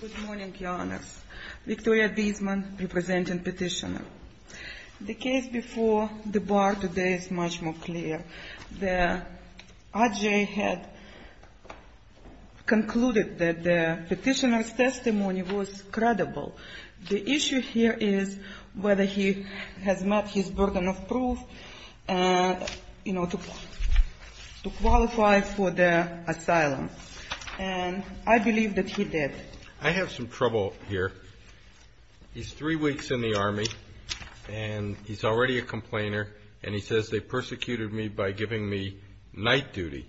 Good morning, Your Honors. Victoria Biesman, representing petitioner. The case before the bar today is much more clear. The adj. had concluded that the petitioner's testimony was credible. The issue here is whether he has met his burden of proof to qualify for the asylum. And I believe that he did. I have some trouble here. He's three weeks in the Army, and he's already a complainer, and he says they persecuted me by giving me night duty.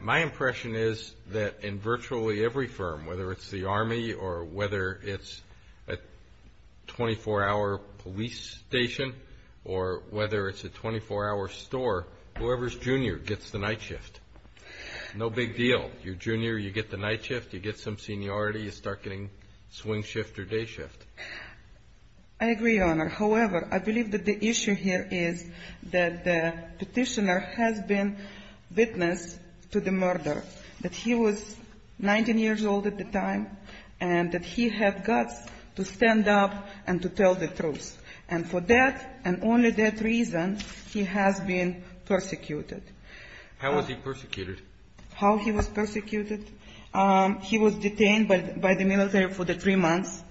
My impression is that in virtually every firm, whether it's the Army or whether it's a 24-hour police station or whether it's a 24-hour store, whoever's junior gets the night shift. No big deal. You're junior, you get the night shift, you get some seniority, you start getting swing shift or day shift. I agree, Your Honor. However, I believe that the issue here is that the petitioner has been witness to the murder, that he was 19 years old at the time, and that he had guts to stand up and to tell the truth. And for that and only that reason, he has been persecuted. How was he persecuted? How he was persecuted? He was detained by the military for three months.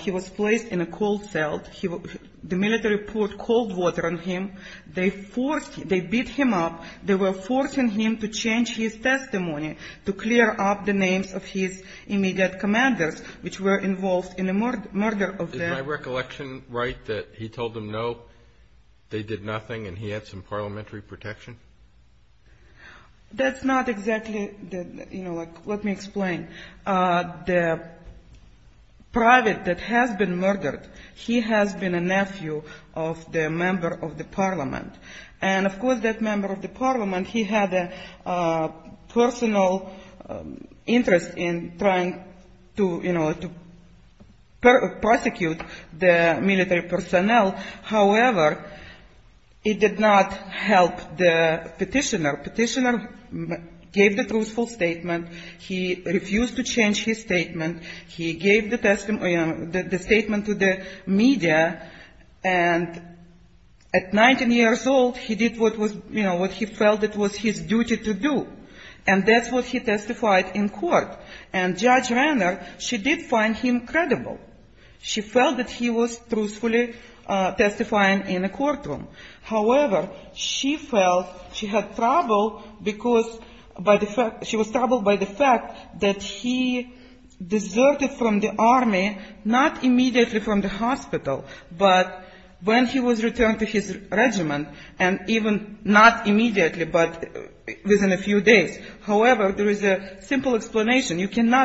He was placed in a cold cell. The military poured cold water on him. They beat him up. They were forcing him to change his testimony, to clear up the names of his immediate commanders, which were involved in the murder of them. Is my recollection right that he told them no, they did nothing, and he had some parliamentary protection? That's not exactly, you know, let me explain. The private that has been murdered, he has been a nephew of the member of the parliament. And, of course, that member of the parliament, he had a personal interest in trying to, you know, to prosecute the military personnel. However, it did not help the petitioner. Petitioner gave the truthful statement. He refused to change his statement. He gave the testimony and the statement to the media, and at 19 years old, he did what was, you know, what he felt it was his duty to do. And that's what he testified in court. And Judge Renner, she did find him credible. She felt that he was truthfully testifying in a courtroom. However, she felt she had trouble because by the fact, she was troubled by the fact that he deserted from the army, not immediately from the hospital, but when he was You cannot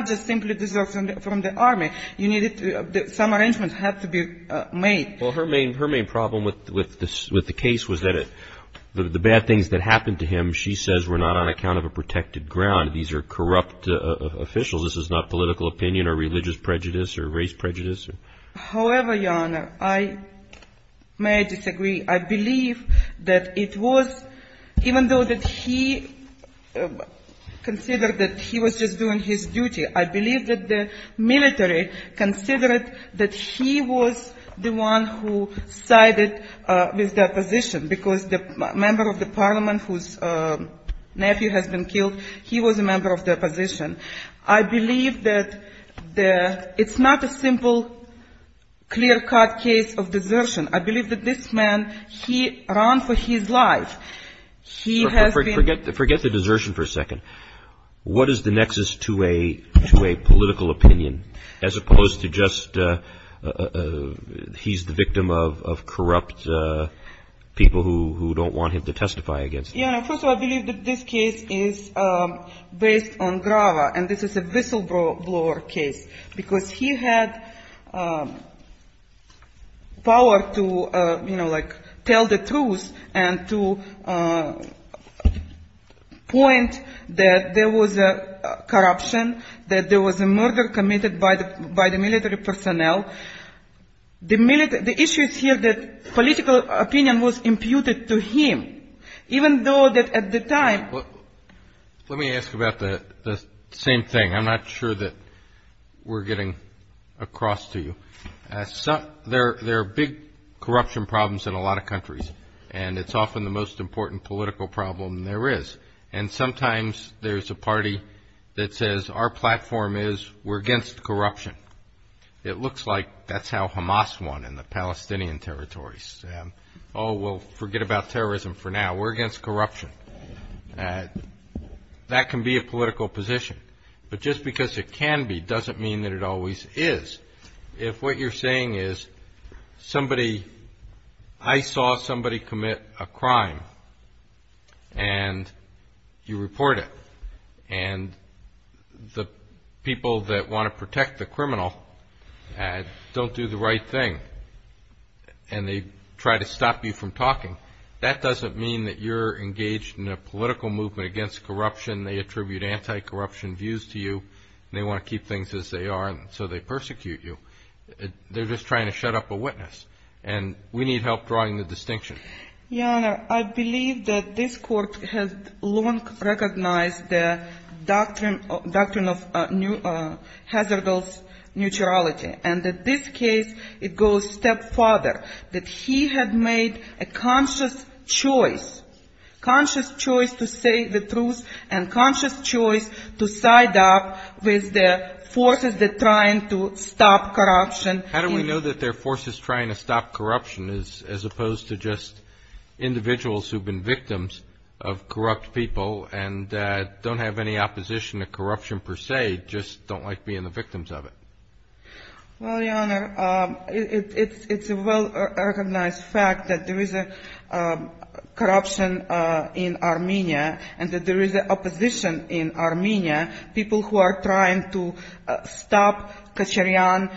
just simply desert from the army. Some arrangements had to be made. Well, her main problem with the case was that the bad things that happened to him, she says, were not on account of a protected ground. These are corrupt officials. This is not political opinion or religious prejudice or race prejudice. However, Your Honor, I may disagree. I believe that it was, even though that he considered that he was just doing his duty, I believe that the military considered that he was the one who sided with the opposition because the member of the parliament whose nephew has been killed, he was a member of the clear-cut case of desertion. I believe that this man, he ran for his life. He has been Forget the desertion for a second. What is the nexus to a political opinion as opposed to just he's the victim of corrupt people who don't want him to testify against him? Your Honor, first of all, I believe that this case is based on Grava, and this is a whistleblower case because he had power to, you know, like, tell the truth and to point that there was corruption, that there was a murder committed by the military personnel. The issue is here that political opinion was imputed to him, even though that at the time Let me ask about the same thing. I'm not sure that we're getting across to you. There are big corruption problems in a lot of countries, and it's often the most important political problem there is. And sometimes there's a party that says our platform is we're against corruption. It looks like that's how Hamas won in the Palestinian territories. Oh, well, forget about terrorism for now. We're against corruption. That can be a political position. But just because it can be doesn't mean that it always is. If what you're saying is somebody, I saw somebody commit a crime, and you report it, and the people that want to protect the criminal don't do the right thing, and they try to stop you from talking, that doesn't mean that you're engaged in a political movement against corruption. They attribute anti-corruption views to you, and they want to keep things as they are, and so they persecute you. They're just trying to shut up a witness, and we need help drawing the distinction. Your Honor, I believe that this Court has long recognized the doctrine of hazardal neutrality, and that this case, it goes a step further, that he had made a conscious choice, conscious choice to say the truth and conscious choice to side up with the forces that are trying to stop corruption. How do we know that they're forces trying to stop corruption as opposed to just individuals who have been victims of corrupt people and don't have any opposition to corruption per se, just don't like being the victims of it? Well, Your Honor, it's a well-recognized fact that there is corruption in Armenia, and that there is opposition in Armenia, people who are trying to stop Kacharyan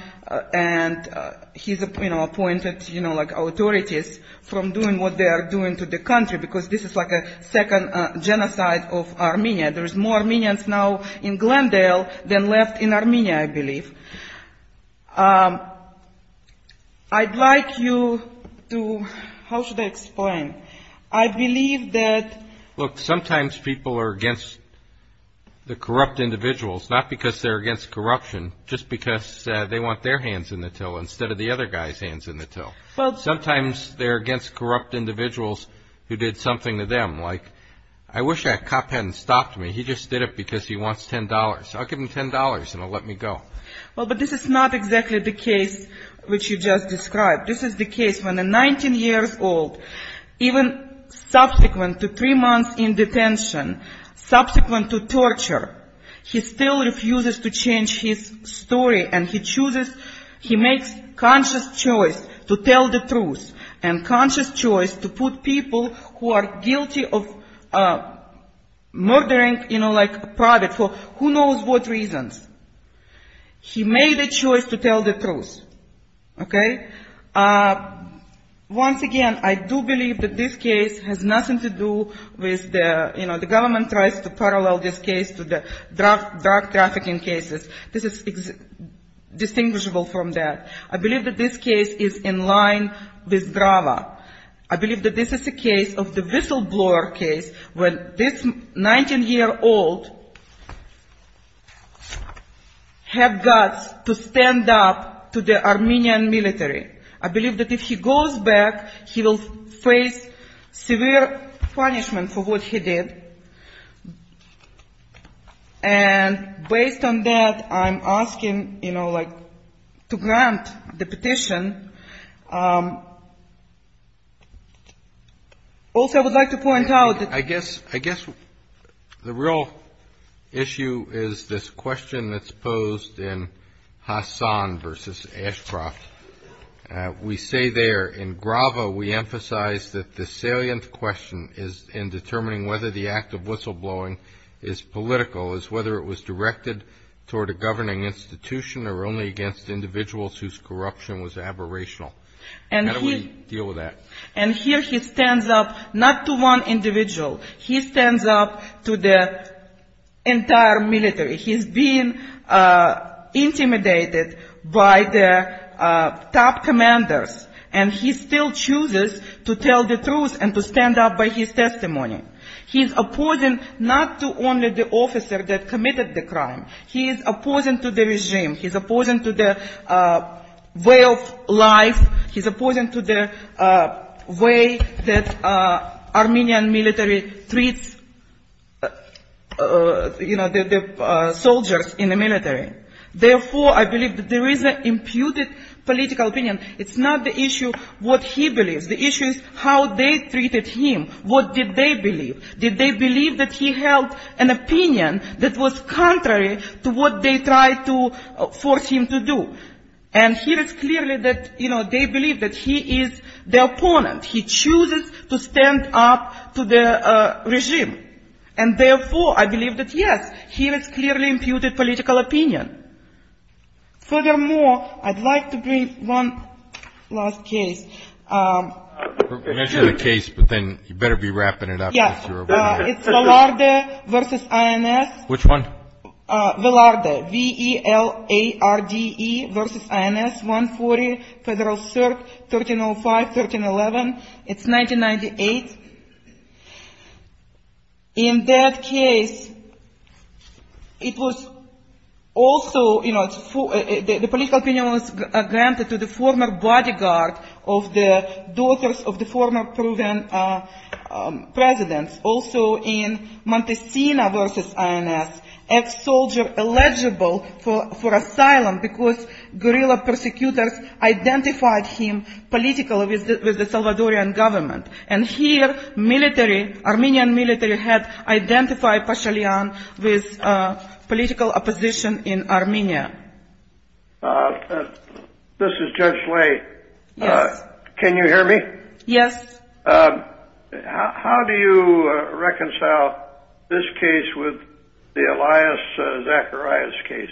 and his appointed authorities from doing what they are doing to the country, because this is like a second genocide of Armenia. There is more Armenians now in Glendale than left in Armenia, I believe. I'd like you to – how should I explain? I believe that – Look, sometimes people are against the corrupt individuals, not because they're against corruption, just because they want their hands in the till instead of the other guy's hands in the till. I wish that cop hadn't stopped me. He just did it because he wants $10. I'll give him $10 and he'll let me go. Well, but this is not exactly the case which you just described. This is the case when a 19-year-old, even subsequent to three months in detention, subsequent to torture, he still refuses to change his story, and he chooses – he makes conscious choice to tell the truth, and conscious choice to put people who are guilty of murdering, you know, like a private for who knows what reasons. He made a choice to tell the truth, okay? Once again, I do believe that this case has nothing to do with the – you know, the government tries to parallel this case to the drug trafficking cases. This is distinguishable from that. I believe that this case is in line with drama. I believe that this is a case of the whistleblower case where this 19-year-old had guts to stand up to the Armenian military. I believe that if he goes back, he will face severe punishment for what he did. And based on that, I'm asking, you know, like to grant the petition. Also, I would like to point out that – I guess the real issue is this question that's posed in Hassan versus Ashcroft. We say there, in Grava, we emphasize that the salient question in determining whether the act of whistleblowing is political is whether it was directed toward a governing institution or only against individuals whose corruption was aberrational. How do we deal with that? And here he stands up not to one individual. He stands up to the entire military. He's being intimidated by the top commanders. And he still chooses to tell the truth and to stand up by his testimony. He's opposing not to only the officer that committed the crime. He's opposing to the regime. He's opposing to the way of life. He's opposing to the way that Armenian military treats, you know, the soldiers in the military. Therefore, I believe that there is an imputed political opinion. It's not the issue what he believes. The issue is how they treated him. What did they believe? Did they believe that he held an opinion that was contrary to what they tried to force him to do? And here it's clearly that, you know, they believe that he is the opponent. He chooses to stand up to the regime. And therefore, I believe that, yes, he has clearly imputed political opinion. Furthermore, I'd like to bring one last case. You mentioned a case, but then you better be wrapping it up. Yes. It's Velarde v. INS. Which one? Velarde. V-E-L-A-R-D-E v. INS, 140 Federal Circuit 1305-1311. It's 1998. In that case, it was also, you know, the political opinion was granted to the former bodyguard of the daughters of the former Peruvian presidents. Also in Montesina v. INS, ex-soldier eligible for asylum because guerrilla persecutors identified him politically with the Salvadorian government. And here military, Armenian military had identified Pashalyan with political opposition in Armenia. This is Judge Lay. Yes. Can you hear me? Yes. How do you reconcile this case with the Elias Zacharias case,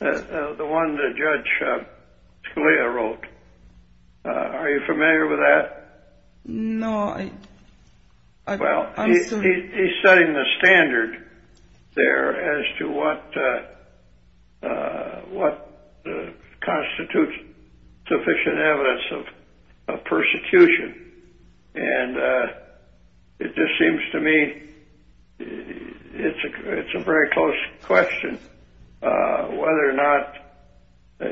the one that Judge Scalia wrote? Are you familiar with that? No. Well, he's setting the standard there as to what constitutes sufficient evidence of persecution. And it just seems to me it's a very close question whether or not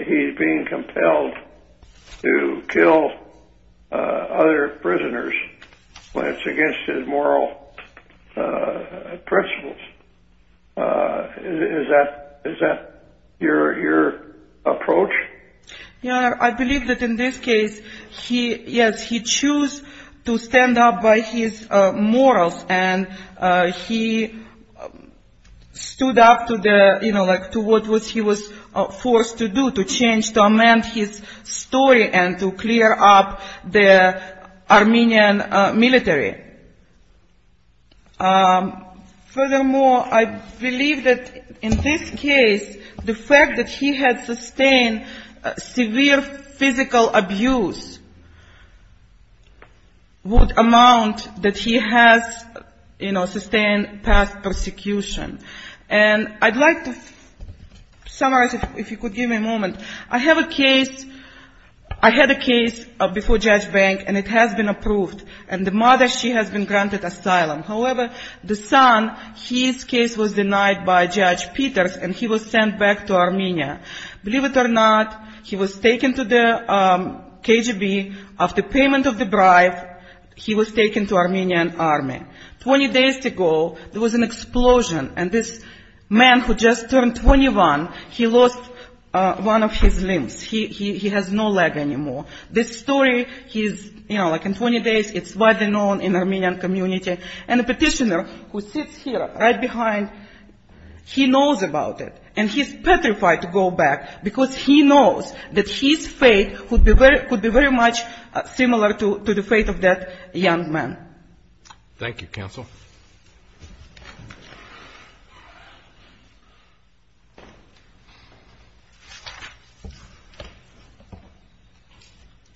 he's being compelled to kill other prisoners when it's against his moral principles. Is that your approach? Your Honor, I believe that in this case, yes, he chose to stand up by his morals and he stood up to the, you know, like to what he was forced to do, to change, to amend his story and to clear up the Armenian military. Furthermore, I believe that in this case, the fact that he had sustained severe physical abuse would amount that he has, you know, sustained past persecution. And I'd like to summarize, if you could give me a moment. I have a case, I had a case before Judge Bank, and it has been approved. And the mother, she has been granted asylum. However, the son, his case was denied by Judge Peters, and he was sent back to Armenia. Believe it or not, he was taken to the KGB. After payment of the bribe, he was taken to Armenian army. Twenty days ago, there was an explosion, and this man who just turned 21, he lost one of his limbs. He has no leg anymore. This story, he's, you know, like in 20 days, it's widely known in Armenian community. And the petitioner who sits here right behind, he knows about it. And he's petrified to go back because he knows that his fate could be very much similar to the fate of that young man. Thank you, counsel.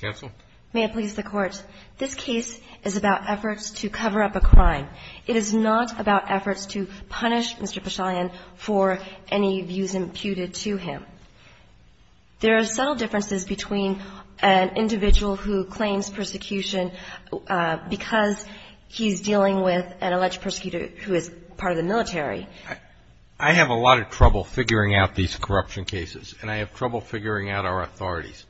Counsel? May it please the Court. This case is about efforts to cover up a crime. It is not about efforts to punish Mr. Pashalyan for any views imputed to him. There are subtle differences between an individual who claims persecution because he's dealing with an alleged persecutor who is part of the military. I have a lot of trouble figuring out these corruption cases, and I have trouble figuring out our authorities.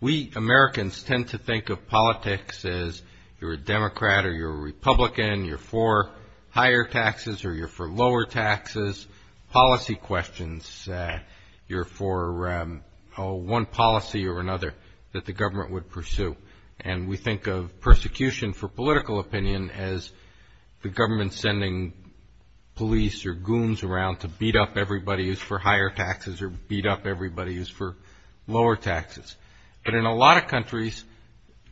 We Americans tend to think of politics as you're a Democrat or you're a Republican, you're for higher taxes or you're for lower taxes. Policy questions, you're for one policy or another that the government would pursue. And we think of persecution for political opinion as the government sending police or goons around to beat up everybody who's for higher taxes or beat up everybody who's for lower taxes. But in a lot of countries,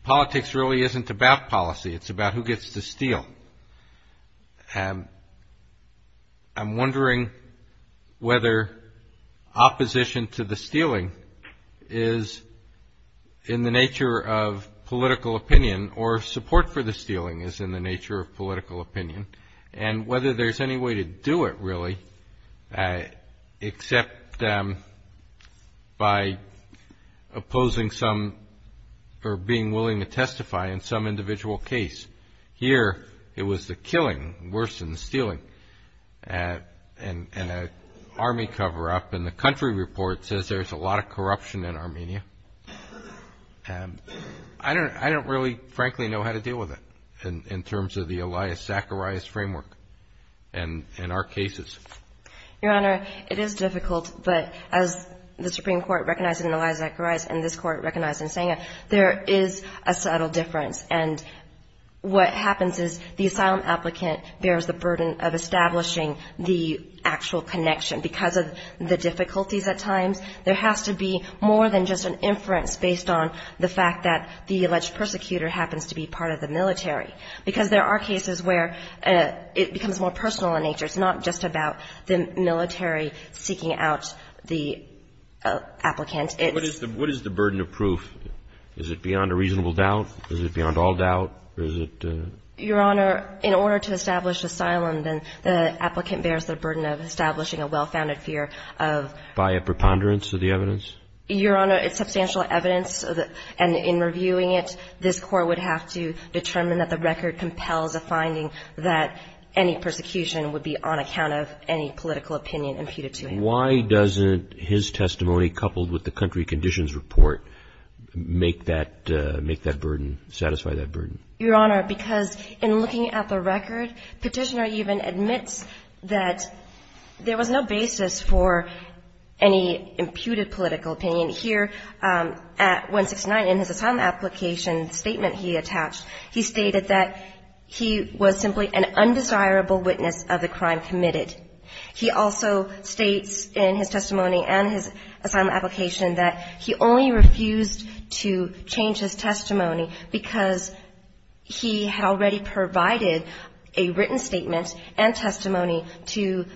politics really isn't about policy. It's about who gets to steal. And I'm wondering whether opposition to the stealing is in the nature of political opinion or support for the stealing is in the nature of political opinion and whether there's any way to do it really except by opposing some or being willing to testify in some individual case. Here, it was the killing worse than the stealing. And an Army cover-up in the country report says there's a lot of corruption in Armenia. I don't really, frankly, know how to deal with it in terms of the Elias Zacharias framework in our cases. Your Honor, it is difficult, but as the Supreme Court recognized in Elias Zacharias and this Court recognized in Senga, there is a subtle difference. And what happens is the asylum applicant bears the burden of establishing the actual connection. Because of the difficulties at times, there has to be more than just an inference based on the fact that the alleged persecutor happens to be part of the military. Because there are cases where it becomes more personal in nature. It's not just about the military seeking out the applicant. What is the burden of proof? Is it beyond a reasonable doubt? Is it beyond all doubt? Is it the ---- Your Honor, in order to establish asylum, then the applicant bears the burden of establishing a well-founded fear of ---- By a preponderance of the evidence? Your Honor, it's substantial evidence. And in reviewing it, this Court would have to determine that the record compels a finding that any persecution would be on account of any political opinion imputed to him. And why doesn't his testimony coupled with the country conditions report make that burden, satisfy that burden? Your Honor, because in looking at the record, Petitioner even admits that there was no basis for any imputed political opinion. Here at 169, in his asylum application statement he attached, he stated that he was simply an undesirable witness of the crime committed. He also states in his testimony and his asylum application that he only refused to change his testimony because he had already provided a written statement and testimony to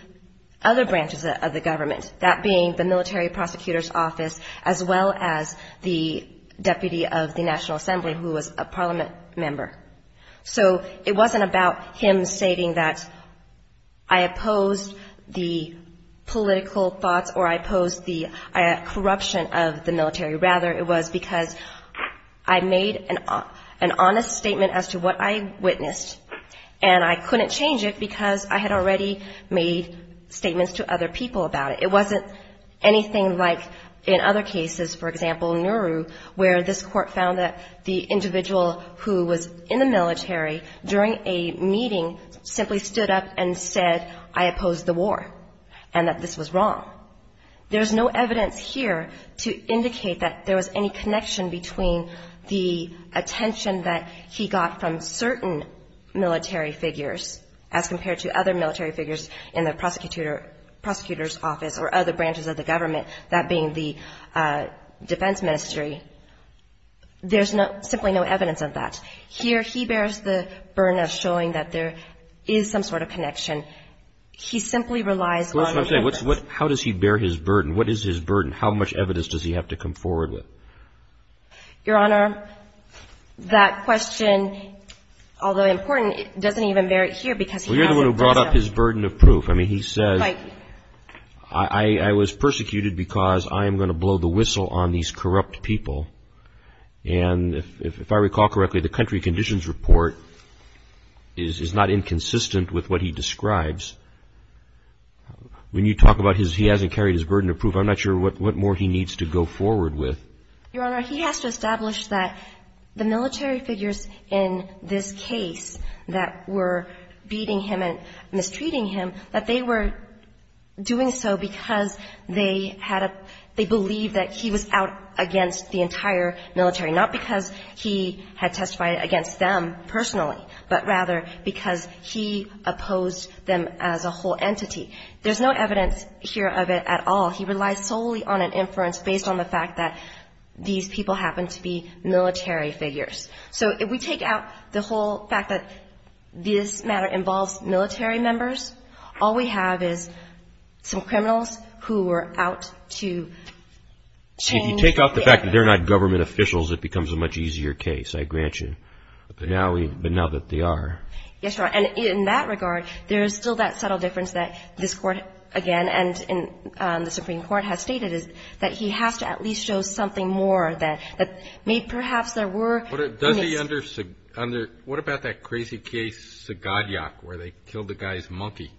other branches of the government, that being the military prosecutor's office as well as the deputy of the National Assembly who was a parliament member. So it wasn't about him stating that I opposed the political thoughts or I opposed the corruption of the military. Rather, it was because I made an honest statement as to what I witnessed, and I couldn't change it because I had already made statements to other people about it. It wasn't anything like in other cases, for example, Nauru, where this Court found that the individual who was in the military during a meeting simply stood up and said, I opposed the war, and that this was wrong. There's no evidence here to indicate that there was any connection between the attention that he got from certain military figures as compared to other military figures in the prosecutor's office or other branches of the government, that being the defense ministry. There's simply no evidence of that. Here he bears the burden of showing that there is some sort of connection. He simply relies on evidence. How does he bear his burden? What is his burden? How much evidence does he have to come forward with? Your Honor, that question, although important, doesn't even bear it here because he has it. Well, you're the one who brought up his burden of proof. I mean, he says, I was persecuted because I am going to blow the whistle on these corrupt people. And if I recall correctly, the country conditions report is not inconsistent with what he describes. When you talk about he hasn't carried his burden of proof, I'm not sure what more he needs to go forward with. Your Honor, he has to establish that the military figures in this case that were beating him and mistreating him, that they were doing so because they had a – they believed that he was out against the entire military, not because he had testified against them personally, but rather because he opposed them as a whole entity. There's no evidence here of it at all. He relies solely on an inference based on the fact that these people happen to be military figures. So if we take out the whole fact that this matter involves military members, all we have is some criminals who were out to change the – See, if you take out the fact that they're not government officials, it becomes a much easier case, I grant you. But now that they are – Yes, Your Honor. And in that regard, there is still that subtle difference that this Court, again, and the Supreme Court has stated is that he has to at least show something more that may perhaps there were – Does he under – what about that crazy case, Sagadiak, where they killed the guy's monkey?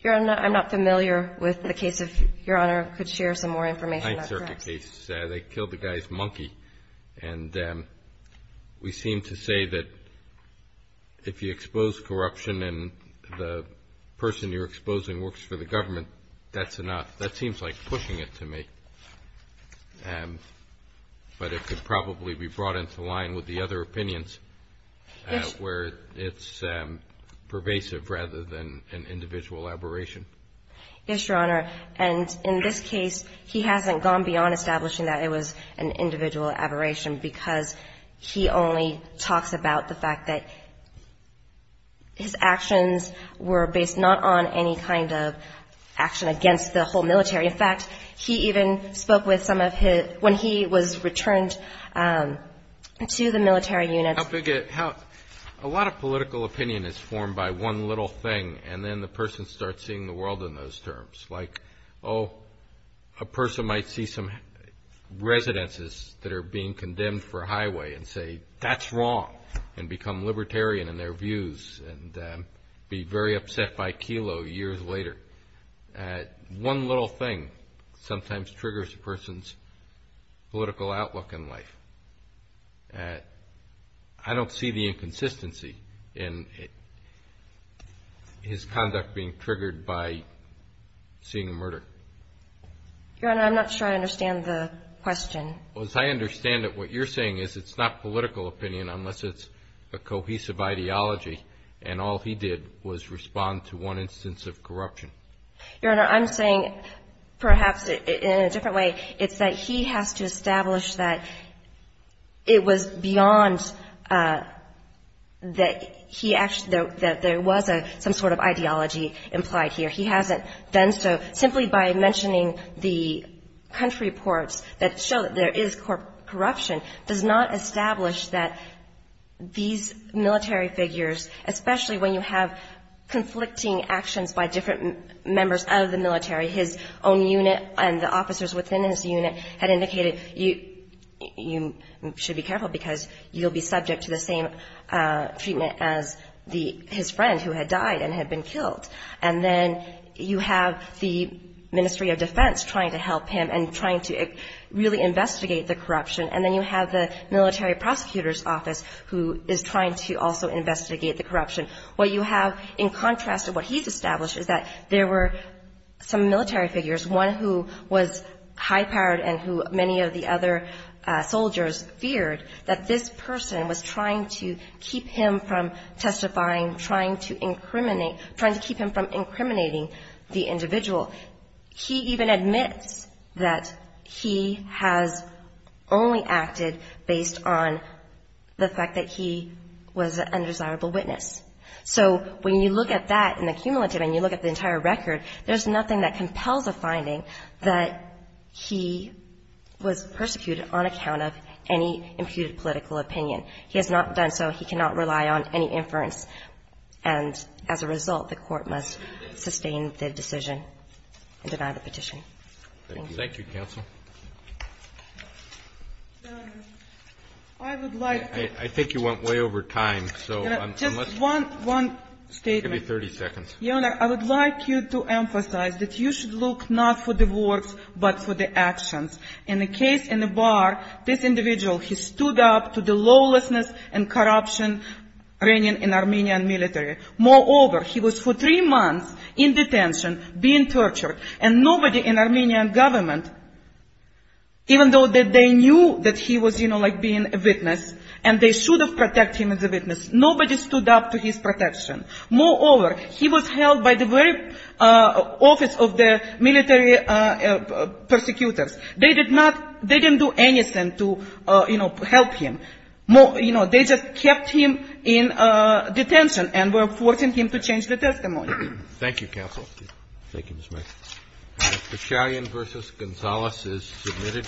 Your Honor, I'm not familiar with the case. If Your Honor could share some more information, that's correct. They killed the guy's monkey. And we seem to say that if you expose corruption and the person you're exposing works for the government, that's enough. That seems like pushing it to me. But it could probably be brought into line with the other opinions where it's pervasive rather than an individual aberration. Yes, Your Honor. And in this case, he hasn't gone beyond establishing that it was an individual aberration because he only talks about the fact that his actions were based not on any kind of action against the whole military. In fact, he even spoke with some of his – when he was returned to the military units. How big a – a lot of political opinion is formed by one little thing, and then the person starts seeing the world in those terms. Like, oh, a person might see some residences that are being condemned for highway and say, One little thing sometimes triggers a person's political outlook in life. I don't see the inconsistency in his conduct being triggered by seeing a murder. Your Honor, I'm not sure I understand the question. As I understand it, what you're saying is it's not political opinion unless it's a cohesive ideology, and all he did was respond to one instance of corruption. Your Honor, I'm saying perhaps in a different way. It's that he has to establish that it was beyond that he – that there was some sort of ideology implied here. He hasn't done so. Simply by mentioning the country reports that show that there is corruption does not establish that these military figures, especially when you have conflicting actions by different members of the military, his own unit and the officers within his unit had indicated you should be careful because you'll be subject to the same treatment as his friend who had died and had been killed. And then you have the Ministry of Defense trying to help him and trying to really investigate the corruption, and then you have the military prosecutor's office who is trying to also investigate the corruption. What you have in contrast to what he's established is that there were some military figures, one who was high-powered and who many of the other soldiers feared, that this person was trying to keep him from testifying, trying to incriminate – trying to keep him from incriminating the individual. He even admits that he has only acted based on the fact that he was an undesirable witness. So when you look at that in the cumulative and you look at the entire record, there's nothing that compels a finding that he was persecuted on account of any imputed political opinion. He has not done so. He cannot rely on any inference. And as a result, the court must sustain the decision and deny the petition. Thank you. Thank you, counsel. Your Honor, I would like to – I think you went way over time, so – Just one statement. Give me 30 seconds. Your Honor, I would like you to emphasize that you should look not for the words but for the actions. In the case in the bar, this individual, he stood up to the lawlessness and corruption reigning in Armenian military. Moreover, he was for three months in detention, being tortured. And nobody in Armenian government, even though they knew that he was, you know, like being a witness, and they should have protected him as a witness, nobody stood up to his protection. Moreover, he was held by the very office of the military persecutors. They did not – they didn't do anything to, you know, help him. You know, they just kept him in detention and were forcing him to change the testimony. Thank you, counsel. Thank you, Ms. Mayer. Beshalian v. Gonzales is submitted.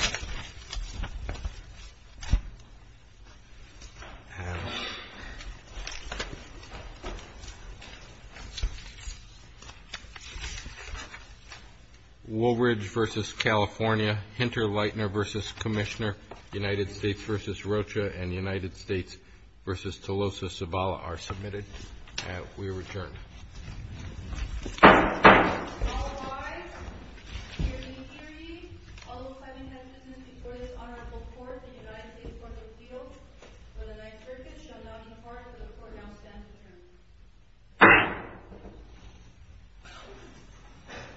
Woolridge v. California, Hinterleitner v. Commissioner, United States v. Rocha, and United States v. Tolosa Sabala are submitted. We return. All rise. Hear ye, hear ye. All those having sentences before this honorable court in the United States Court of Appeals for the ninth circuit shall now depart for the court now stands adjourned.